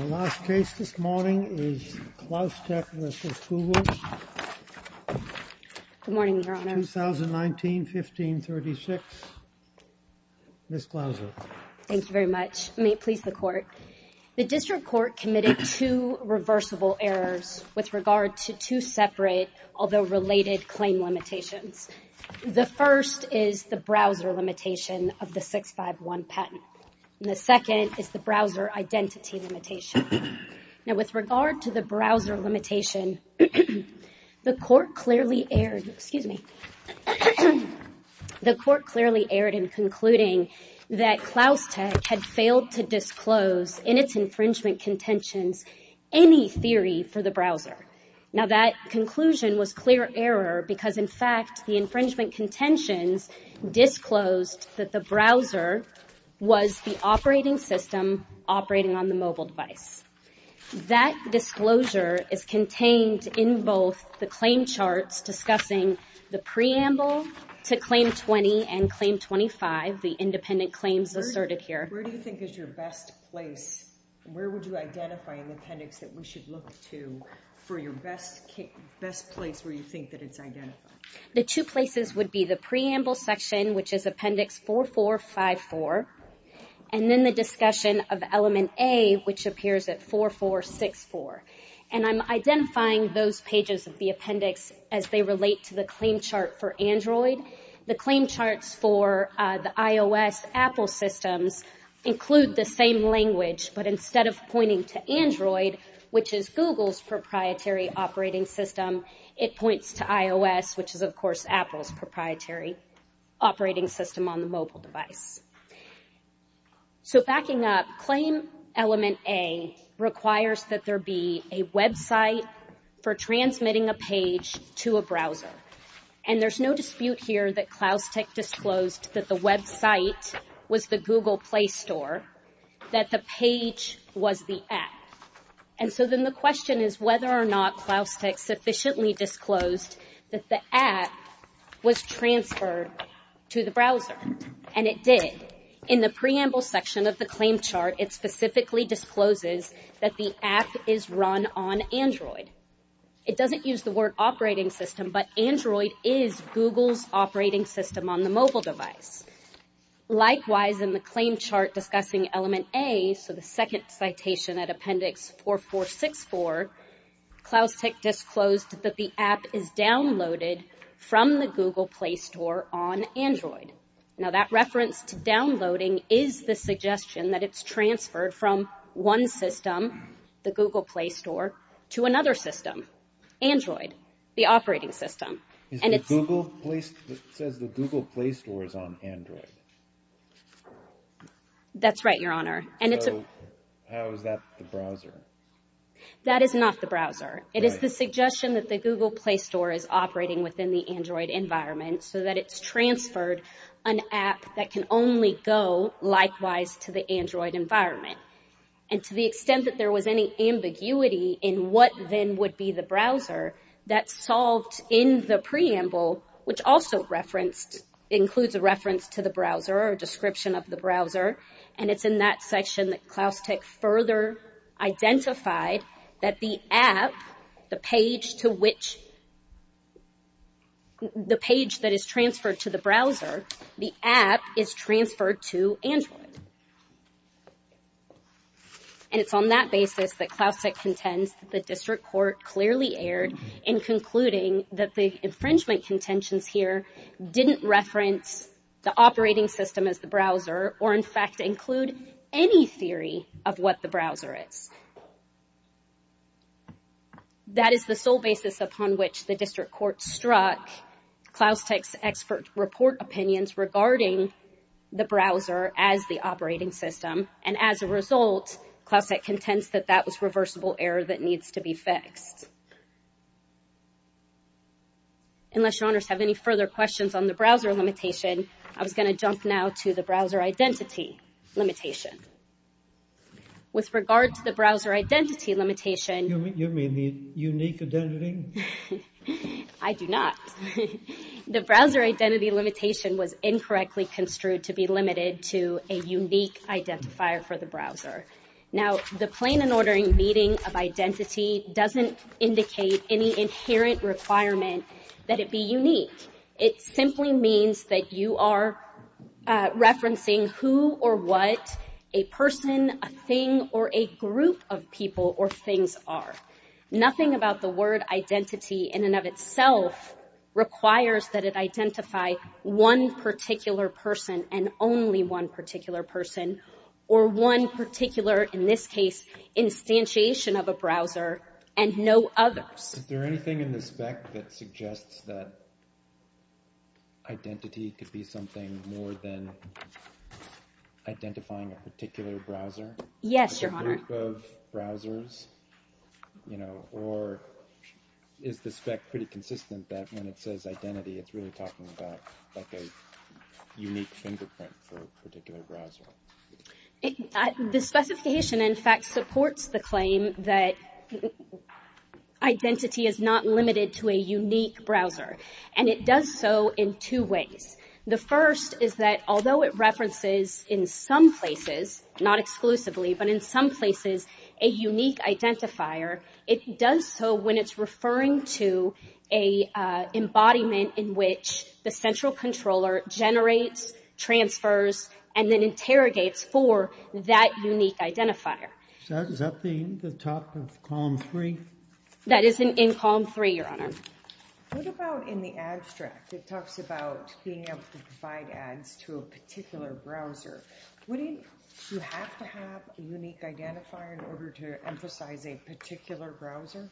In the last case this morning is Klaustek v. Kugel, 2019-15-36, Ms. Klaustek. Thank you very much. May it please the court. The district court committed two reversible errors with regard to two separate, although related, claim limitations. The first is the browser limitation of the 651 patent, and the second is the browser identity limitation. Now with regard to the browser limitation, the court clearly erred in concluding that Klaustek had failed to disclose in its infringement contentions any theory for the browser. Now that conclusion was clear error because, in fact, the infringement contentions disclosed that the browser was the operating system operating on the mobile device. That disclosure is contained in both the claim charts discussing the preamble to Claim 20 and Claim 25, the independent claims asserted here. Where do you think is your best place, where would you identify an appendix that we should look to for your best place where you think that it's identified? The two places would be the preamble section, which is Appendix 4454, and then the discussion of Element A, which appears at 4464. And I'm identifying those pages of the appendix as they relate to the claim chart for Android. The claim charts for the iOS Apple systems include the same language, but instead of Google's proprietary operating system, it points to iOS, which is, of course, Apple's proprietary operating system on the mobile device. So backing up, Claim Element A requires that there be a website for transmitting a page to a browser. And there's no dispute here that Klaustek disclosed that the website was the Google Play Store, that the page was the app. And so then the question is whether or not Klaustek sufficiently disclosed that the app was transferred to the browser, and it did. In the preamble section of the claim chart, it specifically discloses that the app is run on Android. It doesn't use the word operating system, but Android is Google's operating system on the mobile device. Likewise, in the claim chart discussing Element A, so the second citation at appendix 4464, Klaustek disclosed that the app is downloaded from the Google Play Store on Android. Now that reference to downloading is the suggestion that it's transferred from one system, the Google Play Store, to another system, Android, the operating system. It says the Google Play Store is on Android. That's right, Your Honor. So how is that the browser? That is not the browser. It is the suggestion that the Google Play Store is operating within the Android environment so that it's transferred an app that can only go likewise to the Android environment. And to the extent that there was any ambiguity in what then would be the browser, that's the preamble, which also includes a reference to the browser or a description of the browser, and it's in that section that Klaustek further identified that the app, the page that is transferred to the browser, the app is transferred to Android. And it's on that basis that Klaustek contends that the district court clearly erred in concluding that the infringement contentions here didn't reference the operating system as the browser or in fact include any theory of what the browser is. That is the sole basis upon which the district court struck Klaustek's expert report opinions regarding the browser as the operating system, and as a result, Klaustek contends that that was reversible error that needs to be fixed. Unless your honors have any further questions on the browser limitation, I was going to jump now to the browser identity limitation. With regard to the browser identity limitation... You mean the unique identity? I do not. The browser identity limitation was incorrectly construed to be limited to a unique identifier for the browser. Now, the plain and ordering meeting of identity doesn't indicate any inherent requirement that it be unique. It simply means that you are referencing who or what a person, a thing, or a group of people or things are. Nothing about the word identity in and of itself requires that it identify one particular person and only one particular person, or one particular, in this case, instantiation of a browser and no others. Is there anything in the spec that suggests that identity could be something more than identifying a particular browser? Yes, your honor. A group of browsers, you know, or is the spec pretty consistent that when it says identity it's really talking about like a unique fingerprint for a particular browser? The specification, in fact, supports the claim that identity is not limited to a unique browser. And it does so in two ways. The first is that although it references in some places, not exclusively, but in some places a unique identifier, it does so when it's referring to an embodiment in which the central controller generates, transfers, and then interrogates for that unique identifier. Is that the top of column three? That is in column three, your honor. What about in the abstract? It talks about being able to provide ads to a particular browser. Wouldn't you have to have a unique identifier in order to emphasize a particular browser?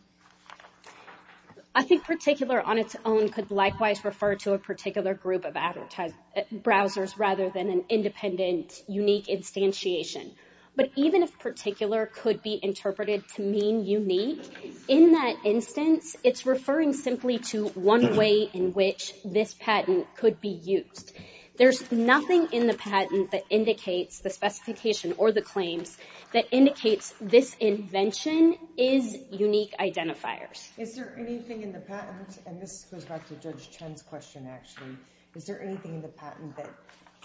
I think particular on its own could likewise refer to a particular group of browsers rather than an independent, unique instantiation. But even if particular could be interpreted to mean unique, in that instance it's referring simply to one way in which this patent could be used. There's nothing in the patent that indicates the specification or the claims that indicates this invention is unique identifiers. Is there anything in the patent, and this goes back to Judge Chen's question actually, is there anything in the patent that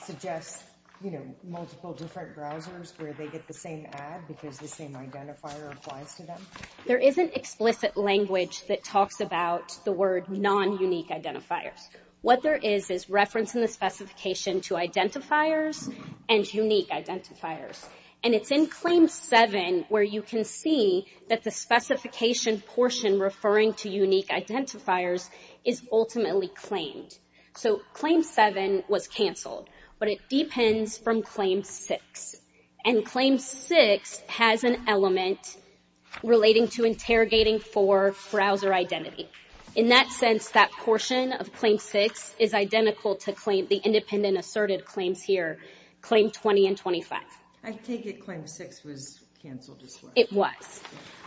suggests, you know, multiple different browsers where they get the same ad because the same identifier applies to them? There isn't explicit language that talks about the word non-unique identifiers. What there is is reference in the specification to identifiers and unique identifiers. And it's in Claim 7 where you can see that the specification portion referring to unique identifiers is ultimately claimed. So Claim 7 was canceled, but it depends from Claim 6. And Claim 6 has an element relating to interrogating for browser identity. In that sense, that portion of Claim 6 is identical to the independent asserted claims here, Claim 20 and 25. I take it Claim 6 was canceled as well. It was.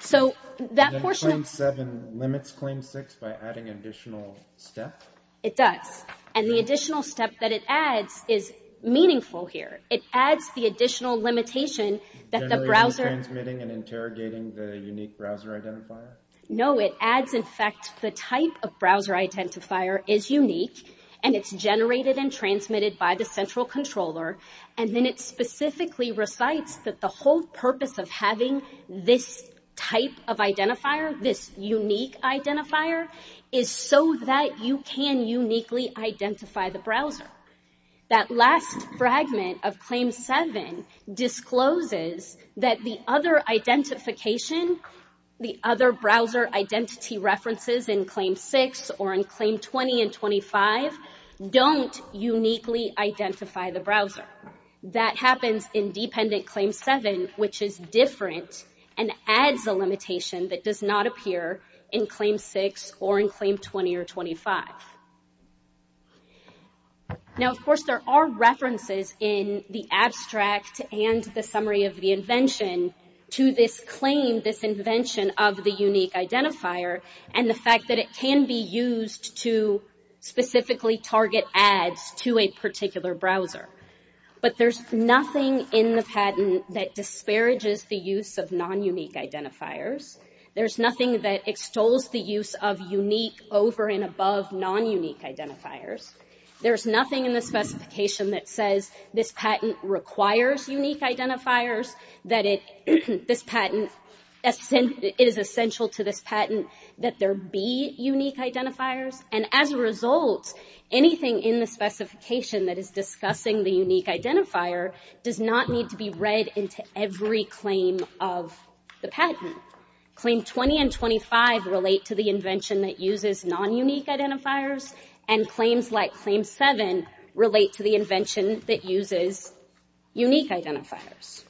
So that portion of... Then Claim 7 limits Claim 6 by adding an additional step? It does. And the additional step that it adds is meaningful here. It adds the additional limitation that the browser... Generally transmitting and interrogating the unique browser identifier? No, it adds, in fact, the type of browser identifier is unique. And it's generated and transmitted by the central controller. And then it specifically recites that the whole purpose of having this type of identifier, this unique identifier, is so that you can uniquely identify the browser. That last fragment of Claim 7 discloses that the other identification, the other browser identity references in Claim 6 or in Claim 20 and 25 don't uniquely identify the browser. That happens in dependent Claim 7, which is different and adds a limitation that does not appear in Claim 6 or in Claim 20 or 25. Now, of course, there are references in the abstract and the summary of the invention to this claim, this invention of the unique identifier, and the fact that it can be used to specifically target ads to a particular browser. But there's nothing in the patent that disparages the use of non-unique identifiers. There's nothing that extols the use of unique over and above non-unique identifiers. There's nothing in the specification that says this patent requires unique identifiers, that it is essential to this patent that there be unique identifiers. And as a result, anything in the specification that is discussing the unique identifier does not need to be read into every claim of the patent. Claim 20 and 25 relate to the invention that uses non-unique identifiers, and claims like Claim 7 relate to the invention that uses unique identifiers.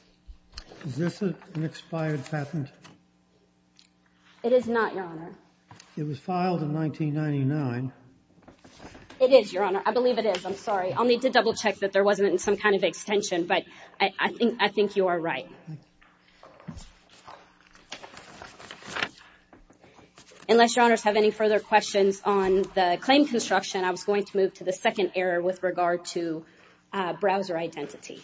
Is this an expired patent? It is not, Your Honor. It was filed in 1999. It is, Your Honor. I believe it is. I'm sorry. I'll need to double-check that there wasn't some kind of extension, but I think you are right. Unless Your Honors have any further questions on the claim construction, I was going to move to the second error with regard to browser identity.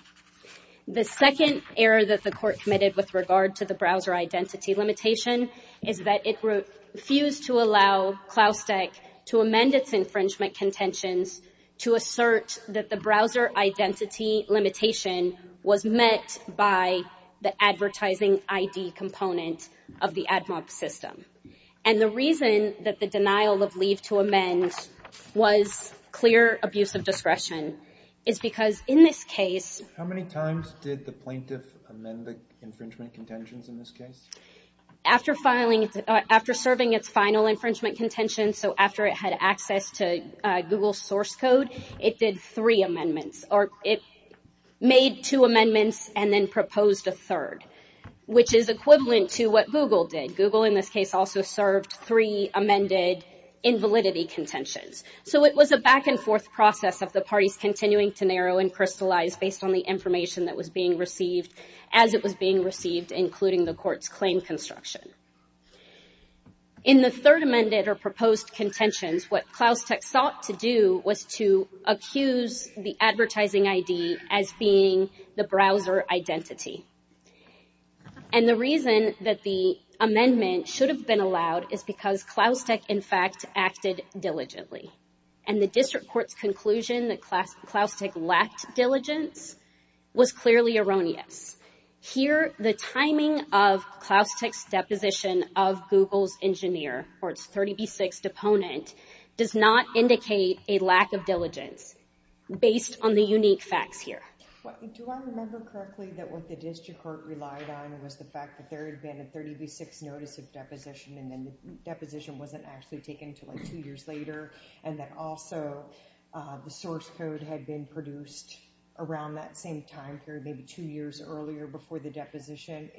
The second error that the Court committed with regard to the browser identity limitation is that it refused to allow Claustek to amend its infringement contentions to assert that the browser identity limitation was met by the advertising ID component of the AdMob system. And the reason that the denial of leave to amend was clear abuse of discretion is because in this case— How many times did the plaintiff amend the infringement contentions in this case? After serving its final infringement contentions, so after it had access to Google's source code, it did three amendments, or it made two amendments and then proposed a third, which is equivalent to what Google did. Google, in this case, also served three amended invalidity contentions. So it was a back-and-forth process of the parties continuing to narrow and crystallize based on the information that was being received as it was being received, including the Court's claim construction. In the third amended or proposed contentions, what Claustek sought to do was to accuse the advertising ID as being the browser identity. And the reason that the amendment should have been allowed is because Claustek, in fact, acted diligently. And the District Court's conclusion that Claustek lacked diligence was clearly erroneous. Here, the timing of Claustek's deposition of Google's engineer, or its 30B6 deponent, does not indicate a lack of diligence based on the unique facts here. Do I remember correctly that what the District Court relied on was the fact that there had been a 30B6 notice of deposition, and then the deposition wasn't actually taken until two years later, and that also the source code had been produced around that same time period, maybe two years earlier before the deposition?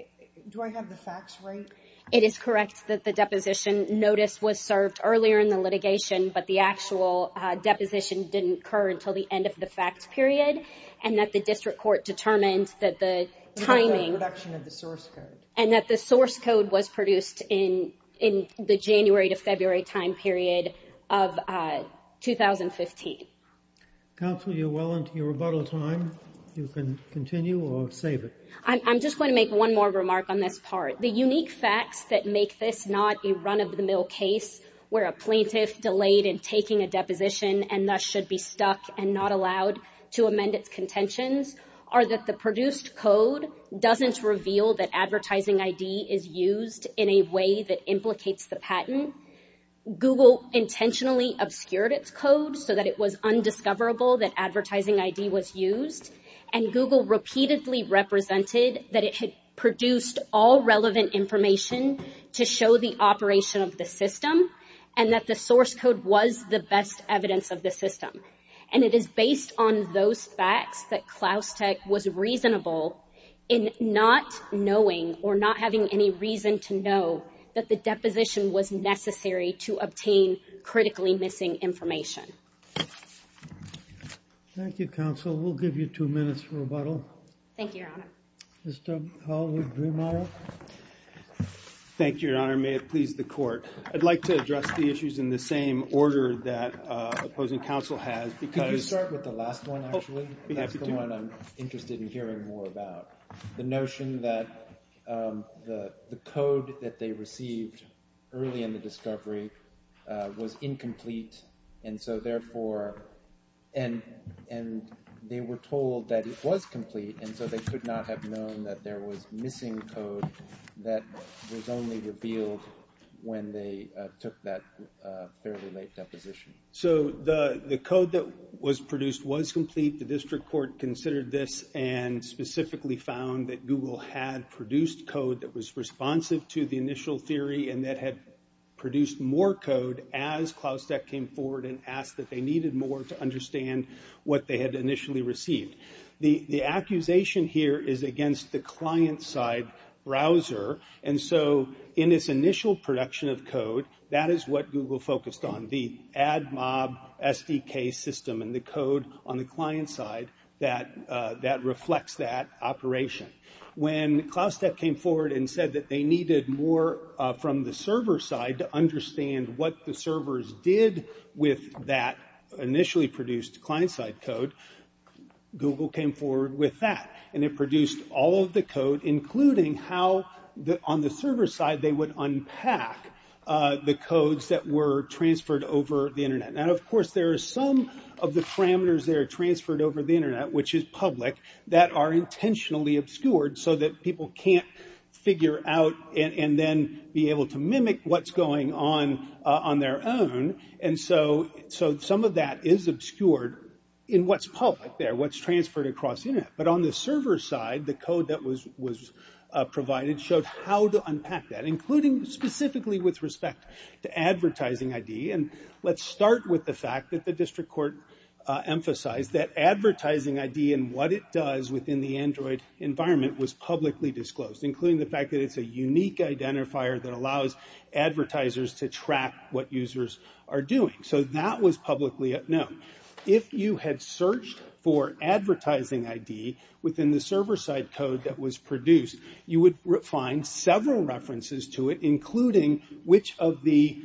Do I have the facts right? It is correct that the deposition notice was served earlier in the litigation, but the actual deposition didn't occur until the end of the fact period, and that the District Court determined that the timing... The reduction of the source code. And that the source code was produced in the January to February time period of 2015. Counsel, you're well into your rebuttal time. You can continue or save it. I'm just going to make one more remark on this part. The unique facts that make this not a run-of-the-mill case where a plaintiff delayed in taking a deposition, and thus should be stuck and not allowed to amend its contentions, are that the produced code doesn't reveal that advertising ID is used in a way that implicates the patent. Google intentionally obscured its code so that it was undiscoverable that advertising ID was used, and Google repeatedly represented that it had produced all relevant information to show the operation of the system, and that the source code was the best evidence of the system. And it is based on those facts that Klaustek was reasonable in not knowing, or not having any reason to know, that the deposition was necessary to obtain critically missing information. Thank you, Counsel. We'll give you two minutes for rebuttal. Thank you, Your Honor. Mr. Hollwood-Vrimara. Thank you, Your Honor. May it please the Court. I'd like to address the issues in the same order that opposing counsel has, because- Could you start with the last one, actually? I'd be happy to. That's the one I'm interested in hearing more about. The notion that the code that they received early in the discovery was incomplete, and so therefore, and they were told that it was complete, and so they could not have known that there was missing code that was only revealed when they took that fairly late deposition. So, the code that was produced was complete. The district court considered this, and specifically found that Google had produced code that was responsive to the initial theory, and that had produced more code as Klaustek came forward and asked that they needed more to understand what they had initially received. The accusation here is against the client-side browser, and so in its initial production of code, that is what Google focused on, the AdMob SDK system and the code on the client side that reflects that operation. When Klaustek came forward and said that they needed more from the server side to understand what the servers did with that initially produced client-side code, Google came forward with that, and it produced all of the code, including how on the server side they would unpack the codes that were transferred over the internet. Now, of course, there are some of the parameters that are transferred over the internet, which is public, that are intentionally obscured so that people can't figure out and then be like what's going on on their own, and so some of that is obscured in what's public there, what's transferred across the internet. But on the server side, the code that was provided showed how to unpack that, including specifically with respect to advertising ID. Let's start with the fact that the district court emphasized that advertising ID and what it does within the Android environment was publicly disclosed, including the fact that it's a unique identifier that allows advertisers to track what users are doing. So that was publicly known. If you had searched for advertising ID within the server side code that was produced, you would find several references to it, including which of the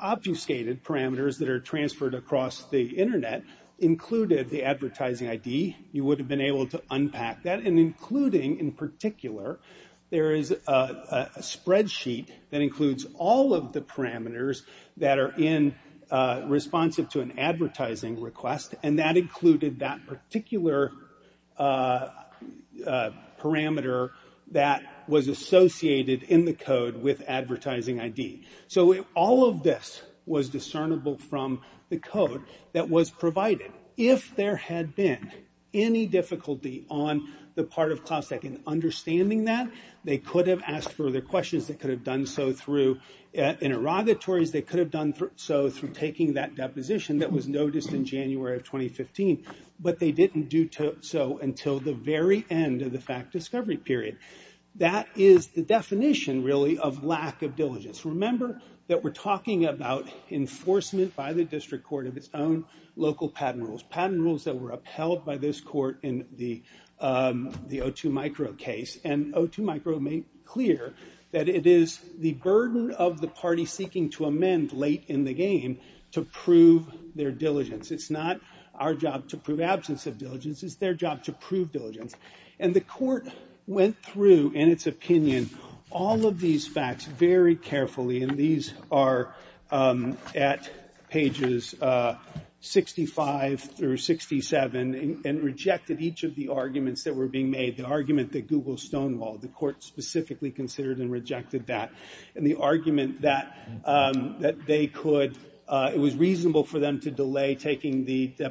obfuscated parameters that are transferred across the internet included the advertising ID. You would have been able to unpack that, and including in particular there is a spreadsheet that includes all of the parameters that are responsive to an advertising request, and that included that particular parameter that was associated in the code with advertising ID. So all of this was discernible from the code that was provided. If there had been any difficulty on the part of CloudStack in understanding that, they could have asked further questions. They could have done so through interrogatories. They could have done so through taking that deposition that was noticed in January of 2015, but they didn't do so until the very end of the fact discovery period. That is the definition, really, of lack of diligence. Remember that we're talking about enforcement by the district court of its own local patent rules, patent rules that were upheld by this court in the O2 Micro case. And O2 Micro made clear that it is the burden of the party seeking to amend late in the game to prove their diligence. It's not our job to prove absence of diligence. It's their job to prove diligence. And the court went through, in its opinion, all of these facts very carefully, and these are at pages 65 through 67, and rejected each of the arguments that were being made. The argument that Google stonewalled. The court specifically considered and rejected that. And the argument that they could, it was reasonable for them to delay taking the case.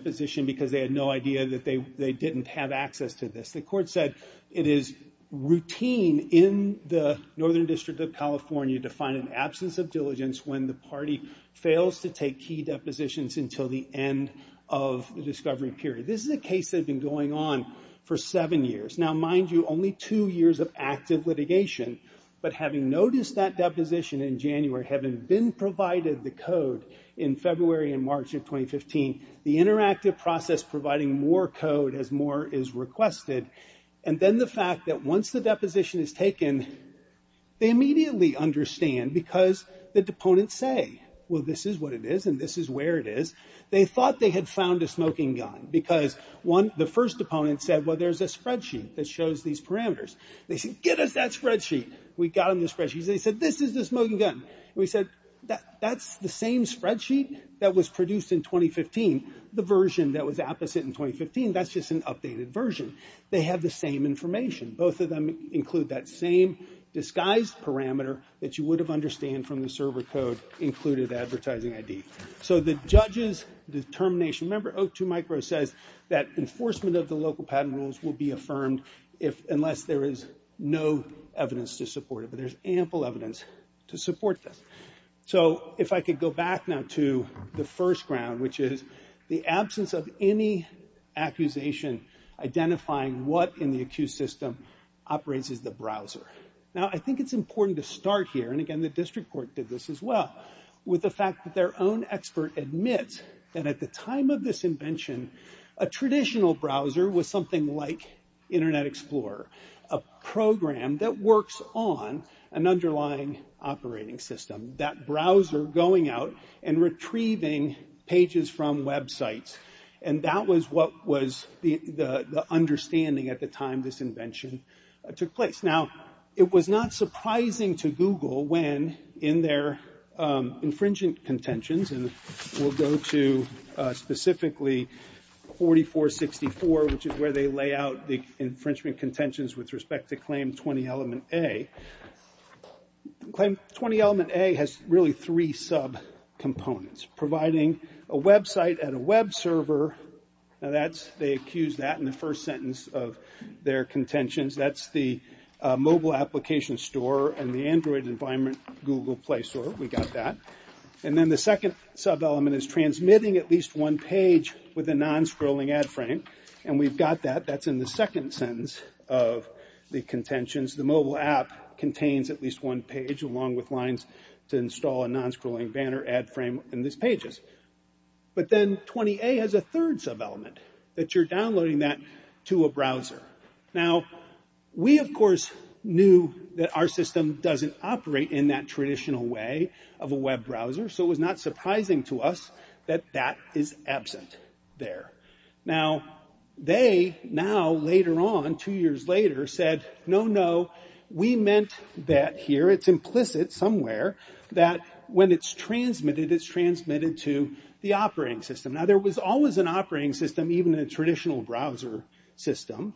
The court said it is routine in the Northern District of California to find an absence of diligence when the party fails to take key depositions until the end of the discovery period. This is a case that had been going on for seven years. Now, mind you, only two years of active litigation, but having noticed that deposition in January, having been provided the code in February and March of 2015, the interactive process providing more code as more is requested, and then the fact that once the deposition is taken, they immediately understand because the deponents say, well, this is what it is and this is where it is. They thought they had found a smoking gun because the first deponent said, well, there's a spreadsheet that shows these parameters. They said, get us that spreadsheet. We got them the spreadsheet. They said, this is the smoking gun. We said, that's the same spreadsheet that was produced in 2015. The version that was opposite in 2015, that's just an updated version. They have the same information. Both of them include that same disguised parameter that you would have understood from the server code included advertising ID. So the judge's determination, remember, 02micro says that enforcement of the local patent rules will be affirmed unless there is no evidence to support it. So there's ample evidence to support this. So if I could go back now to the first ground, which is the absence of any accusation identifying what in the accused system operates as the browser. Now, I think it's important to start here, and again, the district court did this as well, with the fact that their own expert admits that at the time of this invention, a traditional browser was something like Internet Explorer. A program that works on an underlying operating system. That browser going out and retrieving pages from websites. And that was what was the understanding at the time this invention took place. Now, it was not surprising to Google when, in their infringing contentions, and we'll go to specifically 4464, which is where they lay out the infringement contentions with respect to Claim 20 Element A. Claim 20 Element A has really three sub-components. Providing a website at a web server. Now that's, they accused that in the first sentence of their contentions. That's the mobile application store and the Android environment Google Play Store. We got that. And then the second sub-element is transmitting at least one page with a non-scrolling ad frame. And we've got that. That's in the second sentence of the contentions. The mobile app contains at least one page along with lines to install a non-scrolling banner ad frame in these pages. But then 20A has a third sub-element. That you're downloading that to a browser. Now, we, of course, knew that our system doesn't operate in that traditional way of a web browser. So it was not surprising to us that that is absent there. Now, they, now, later on, two years later, said, no, no. We meant that here. It's implicit somewhere that when it's transmitted, it's transmitted to the operating system. Now, there was always an operating system, even a traditional browser system.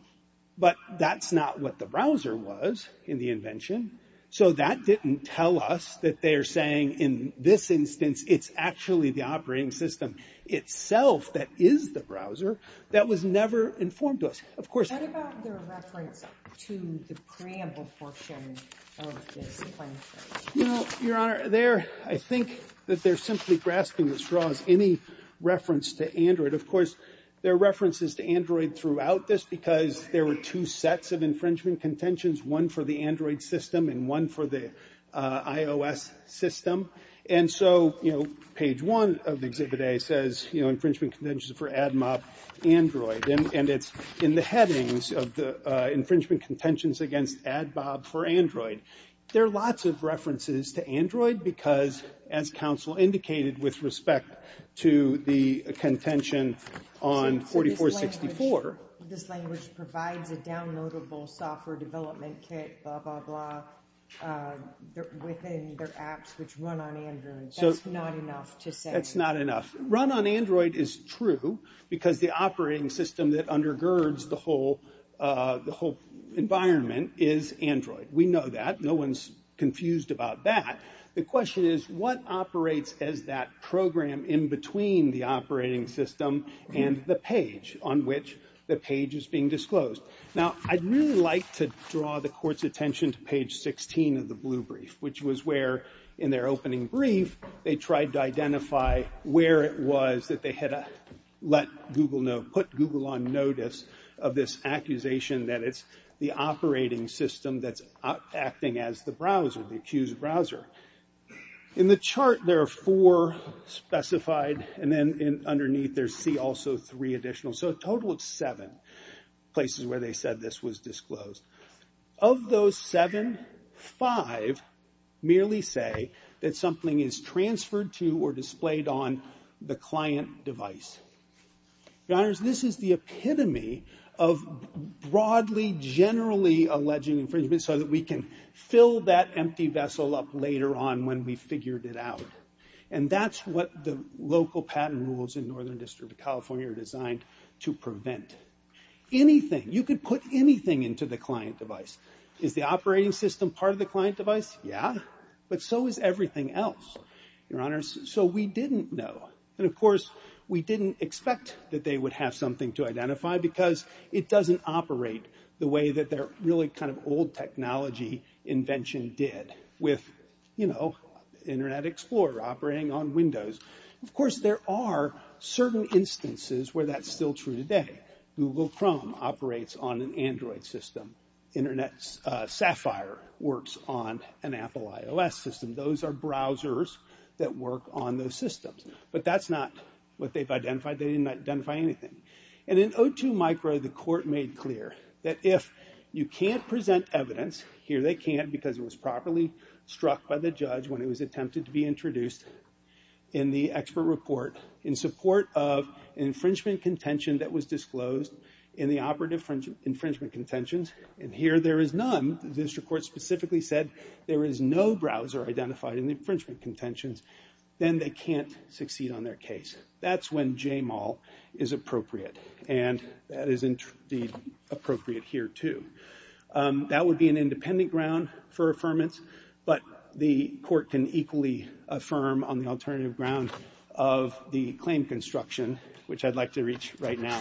But that's not what the browser was in the invention. So that didn't tell us that they're saying in this instance, it's actually the operating system itself that is the browser. That was never informed to us. What about their reference to the preamble portion of this? Your Honor, I think that they're simply grasping the straws. Any reference to Android. Of course, there are references to Android throughout this because there were two sets of infringement contentions. One for the Android system and one for the iOS system. And so, you know, page one of Exhibit A says infringement contentions for AdMob Android. And it's in the headings of the infringement contentions against AdMob for Android. There are lots of references to Android because, as counsel indicated with respect to the contention on 4464. This language provides a downloadable software development kit, blah, blah, blah, within their apps which run on Android. That's not enough to say. That's not enough. Run on Android is true because the operating system that undergirds the whole environment is Android. We know that. No one's confused about that. The question is, what operates as that program in between the operating system and the page on which the page is being disclosed? Now, I'd really like to draw the court's attention to page 16 of the blue brief, which was where, in their opening brief, they tried to identify where it was that they had let Google know, put Google on notice of this accusation that it's the operating system that's acting as the browser, the accused browser. In the chart, there are four specified. And then underneath, there's C, also three additional. So a total of seven places where they said this was disclosed. Of those seven, five merely say that something is transferred to or displayed on the client device. Your Honors, this is the epitome of broadly, generally alleging infringement so that we can fill that empty vessel up later on when we've figured it out. And that's what the local patent rules in Northern District of California are designed to prevent. Anything, you could put anything into the client device. Is the operating system part of the client device? Yeah. But so is everything else, Your Honors. So we didn't know. And of course, we didn't expect that they would have something to identify because it doesn't operate the way that their really kind of old technology invention did with, you know, Internet Explorer operating on Windows. Of course, there are certain instances where that's still true today. Google Chrome operates on an Android system. Internet Sapphire works on an Apple iOS system. Those are browsers that work on those systems. But that's not what they've identified. They didn't identify anything. And in O2 Micro, the court made clear that if you can't present evidence, here they can't because it was properly struck by the judge when it was attempted to be in the expert report in support of infringement contention that was disclosed in the operative infringement contentions. And here there is none. This report specifically said there is no browser identified in the infringement contentions. Then they can't succeed on their case. That's when JMAL is appropriate. And that is indeed appropriate here, too. That would be an independent ground for affirmance. But the court can equally affirm on the alternative ground of the claim construction, which I'd like to reach right now.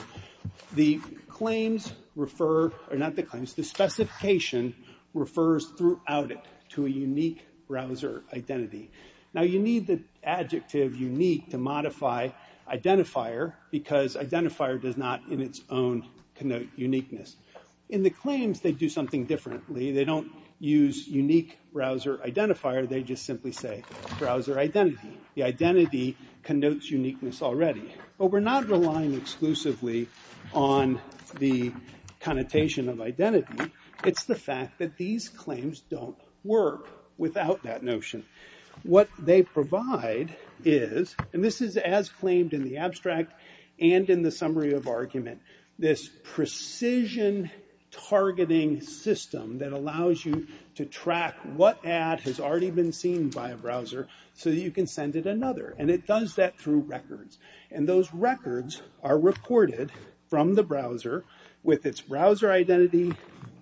The claims refer, or not the claims, the specification refers throughout it to a unique browser identity. Now, you need the adjective unique to modify identifier because identifier does not in its own connote uniqueness. In the claims, they do something differently. They don't use unique browser identifier. They just simply say browser identity. The identity connotes uniqueness already. But we're not relying exclusively on the connotation of identity. It's the fact that these claims don't work without that notion. What they provide is, and this is as claimed in the abstract and in the document, is a tool that allows you to track what ad has already been seen by a browser so that you can send it another. And it does that through records. And those records are recorded from the browser with its browser identity,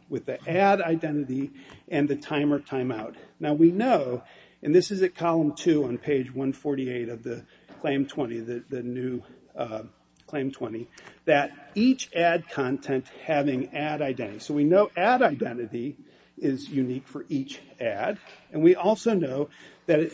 with the ad identity, and the time or timeout. Now, we know, and this is at column two on page 148 of the claim 20, the new claim 20, that each ad content having ad identity. So we know ad identity is unique for each ad. And we also know that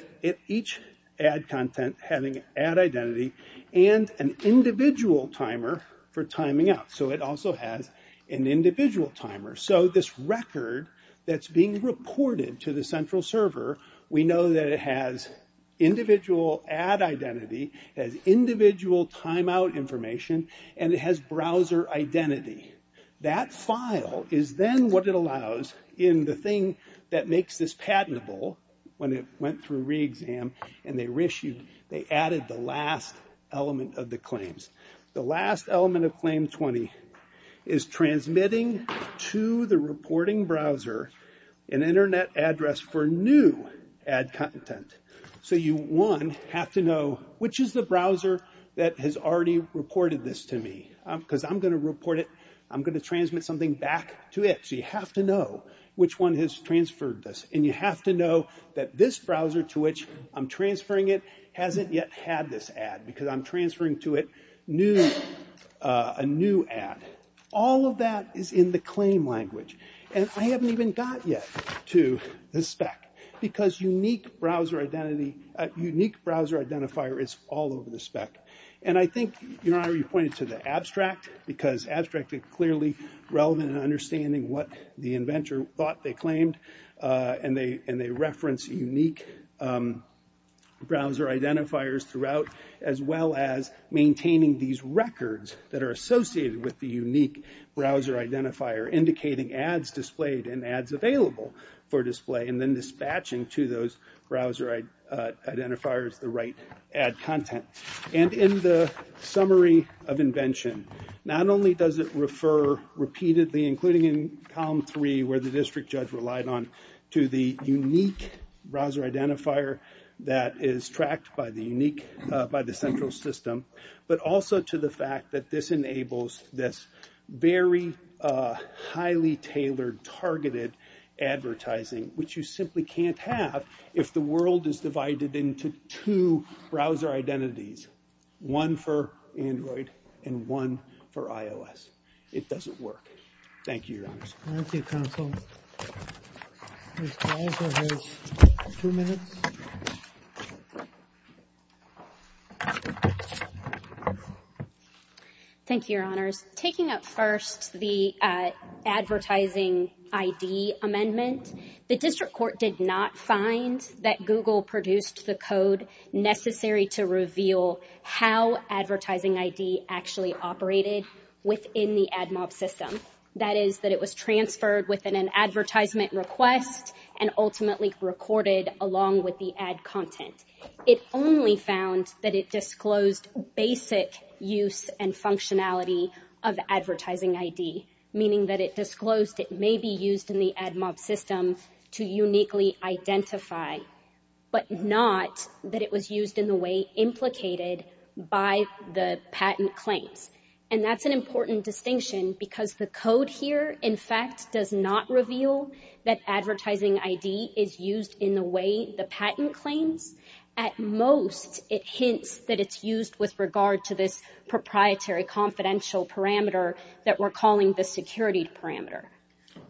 each ad content having ad identity and an individual timer for timing out. So it also has an individual timer. So this record that's being reported to the central server, we know that it has individual ad identity, has individual timeout information, and it has browser identity. That file is then what it allows in the thing that makes this patentable when it went through re-exam and they added the last element of the claims. The last element of claim 20 is transmitting to the reporting browser an internet address for new ad content. So you, one, have to know which is the browser that has already reported this to me because I'm going to report it. I'm going to transmit something back to it. So you have to know which one has transferred this. And you have to know that this browser to which I'm transferring it hasn't yet had this ad because I'm transferring to it a new ad. All of that is in the claim language. And I haven't even got yet to the spec because unique browser identity, unique browser identifier is all over the spec. And I think, you know, I already pointed to the abstract because abstract is clearly relevant in understanding what the inventor thought they claimed. And they reference unique browser identifiers throughout as well as maintaining these records that are associated with the unique browser identifier indicating ads displayed and ads available for display and then dispatching to those browser identifiers the right ad content. And in the summary of invention, not only does it refer repeatedly including in column three where the district judge relied on to the unique browser identifier that is tracked by the unique, by the central system, but also to the fact that this enables this very highly tailored targeted advertising which you simply can't have if the world is divided into two browser identities. One for Android and one for iOS. It doesn't work. Thank you, Your Honors. Thank you, Your Honors. Taking up first the advertising ID amendment, the district court did not find that Google produced the code necessary to reveal how advertising ID actually operated within the AdMob system. That is that it was transferred within an advertisement request and ultimately recorded along with the ad content. It only found that it disclosed basic use and functionality of advertising ID, meaning that it disclosed it may be used in the AdMob system to uniquely identify, but not that it was used in the way implicated by the patent claims. And that's an important distinction because the code here, in fact, does not reveal that advertising ID is used in the way the patent claims. At most, it hints that it's used with regard to this proprietary confidential parameter that we're calling the security parameter.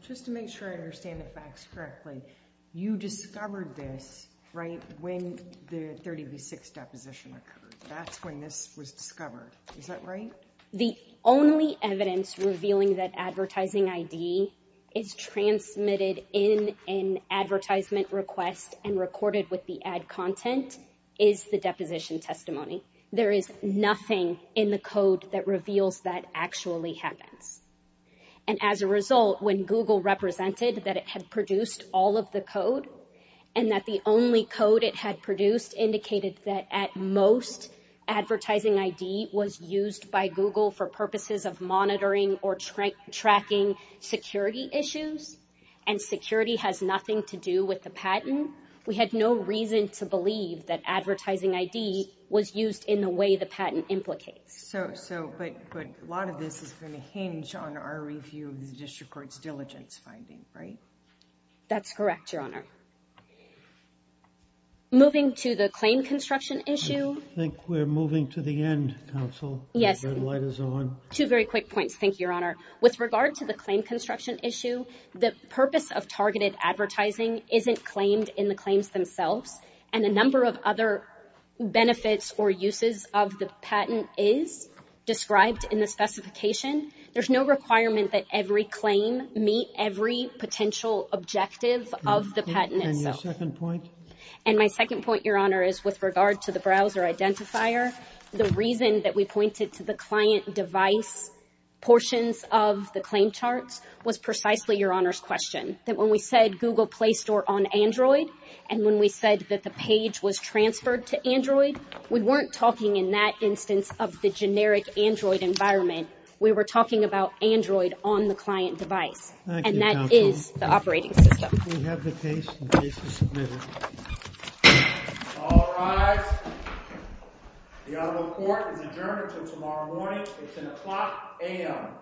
Just to make sure I understand the facts correctly, you discovered this, right, when the 30 v. 6 deposition occurred. That's when this was discovered. Is that right? The only evidence revealing that advertising ID is transmitted in an advertisement request and recorded with the ad content is the deposition testimony. There is nothing in the code that reveals that actually happens. And as a result, when Google represented that it had produced all of the code and that the only code it had produced indicated that at most, advertising ID was used by Google for purposes of monitoring or tracking security issues, and security has nothing to do with the patent, we had no reason to believe that advertising ID was used in the way the patent implicates. But a lot of this is going to hinge on our review of the district court's diligence finding, right? That's correct, Your Honor. Moving to the claim construction issue. I think we're moving to the end, counsel. Yes. The red light is on. Two very quick points, thank you, Your Honor. With regard to the claim construction issue, the purpose of targeted advertising isn't claimed in the claims themselves, and a number of other benefits or uses of the patent is described in the specification. There's no requirement that every claim meet every potential objective of the patent itself. And your second point? And my second point, Your Honor, is with regard to the browser identifier, the reason that we pointed to the client device portions of the claim charts was precisely Your Honor's question. That when we said Google Play Store on Android, and when we said that the page was transferred to Android, we weren't talking in that instance of the generic Android environment. We were talking about Android on the client device. Thank you, counsel. And that is the operating system. We have the case. The case is submitted. All rise. The honorable court is adjourned until tomorrow morning. It's in the clock, a.m.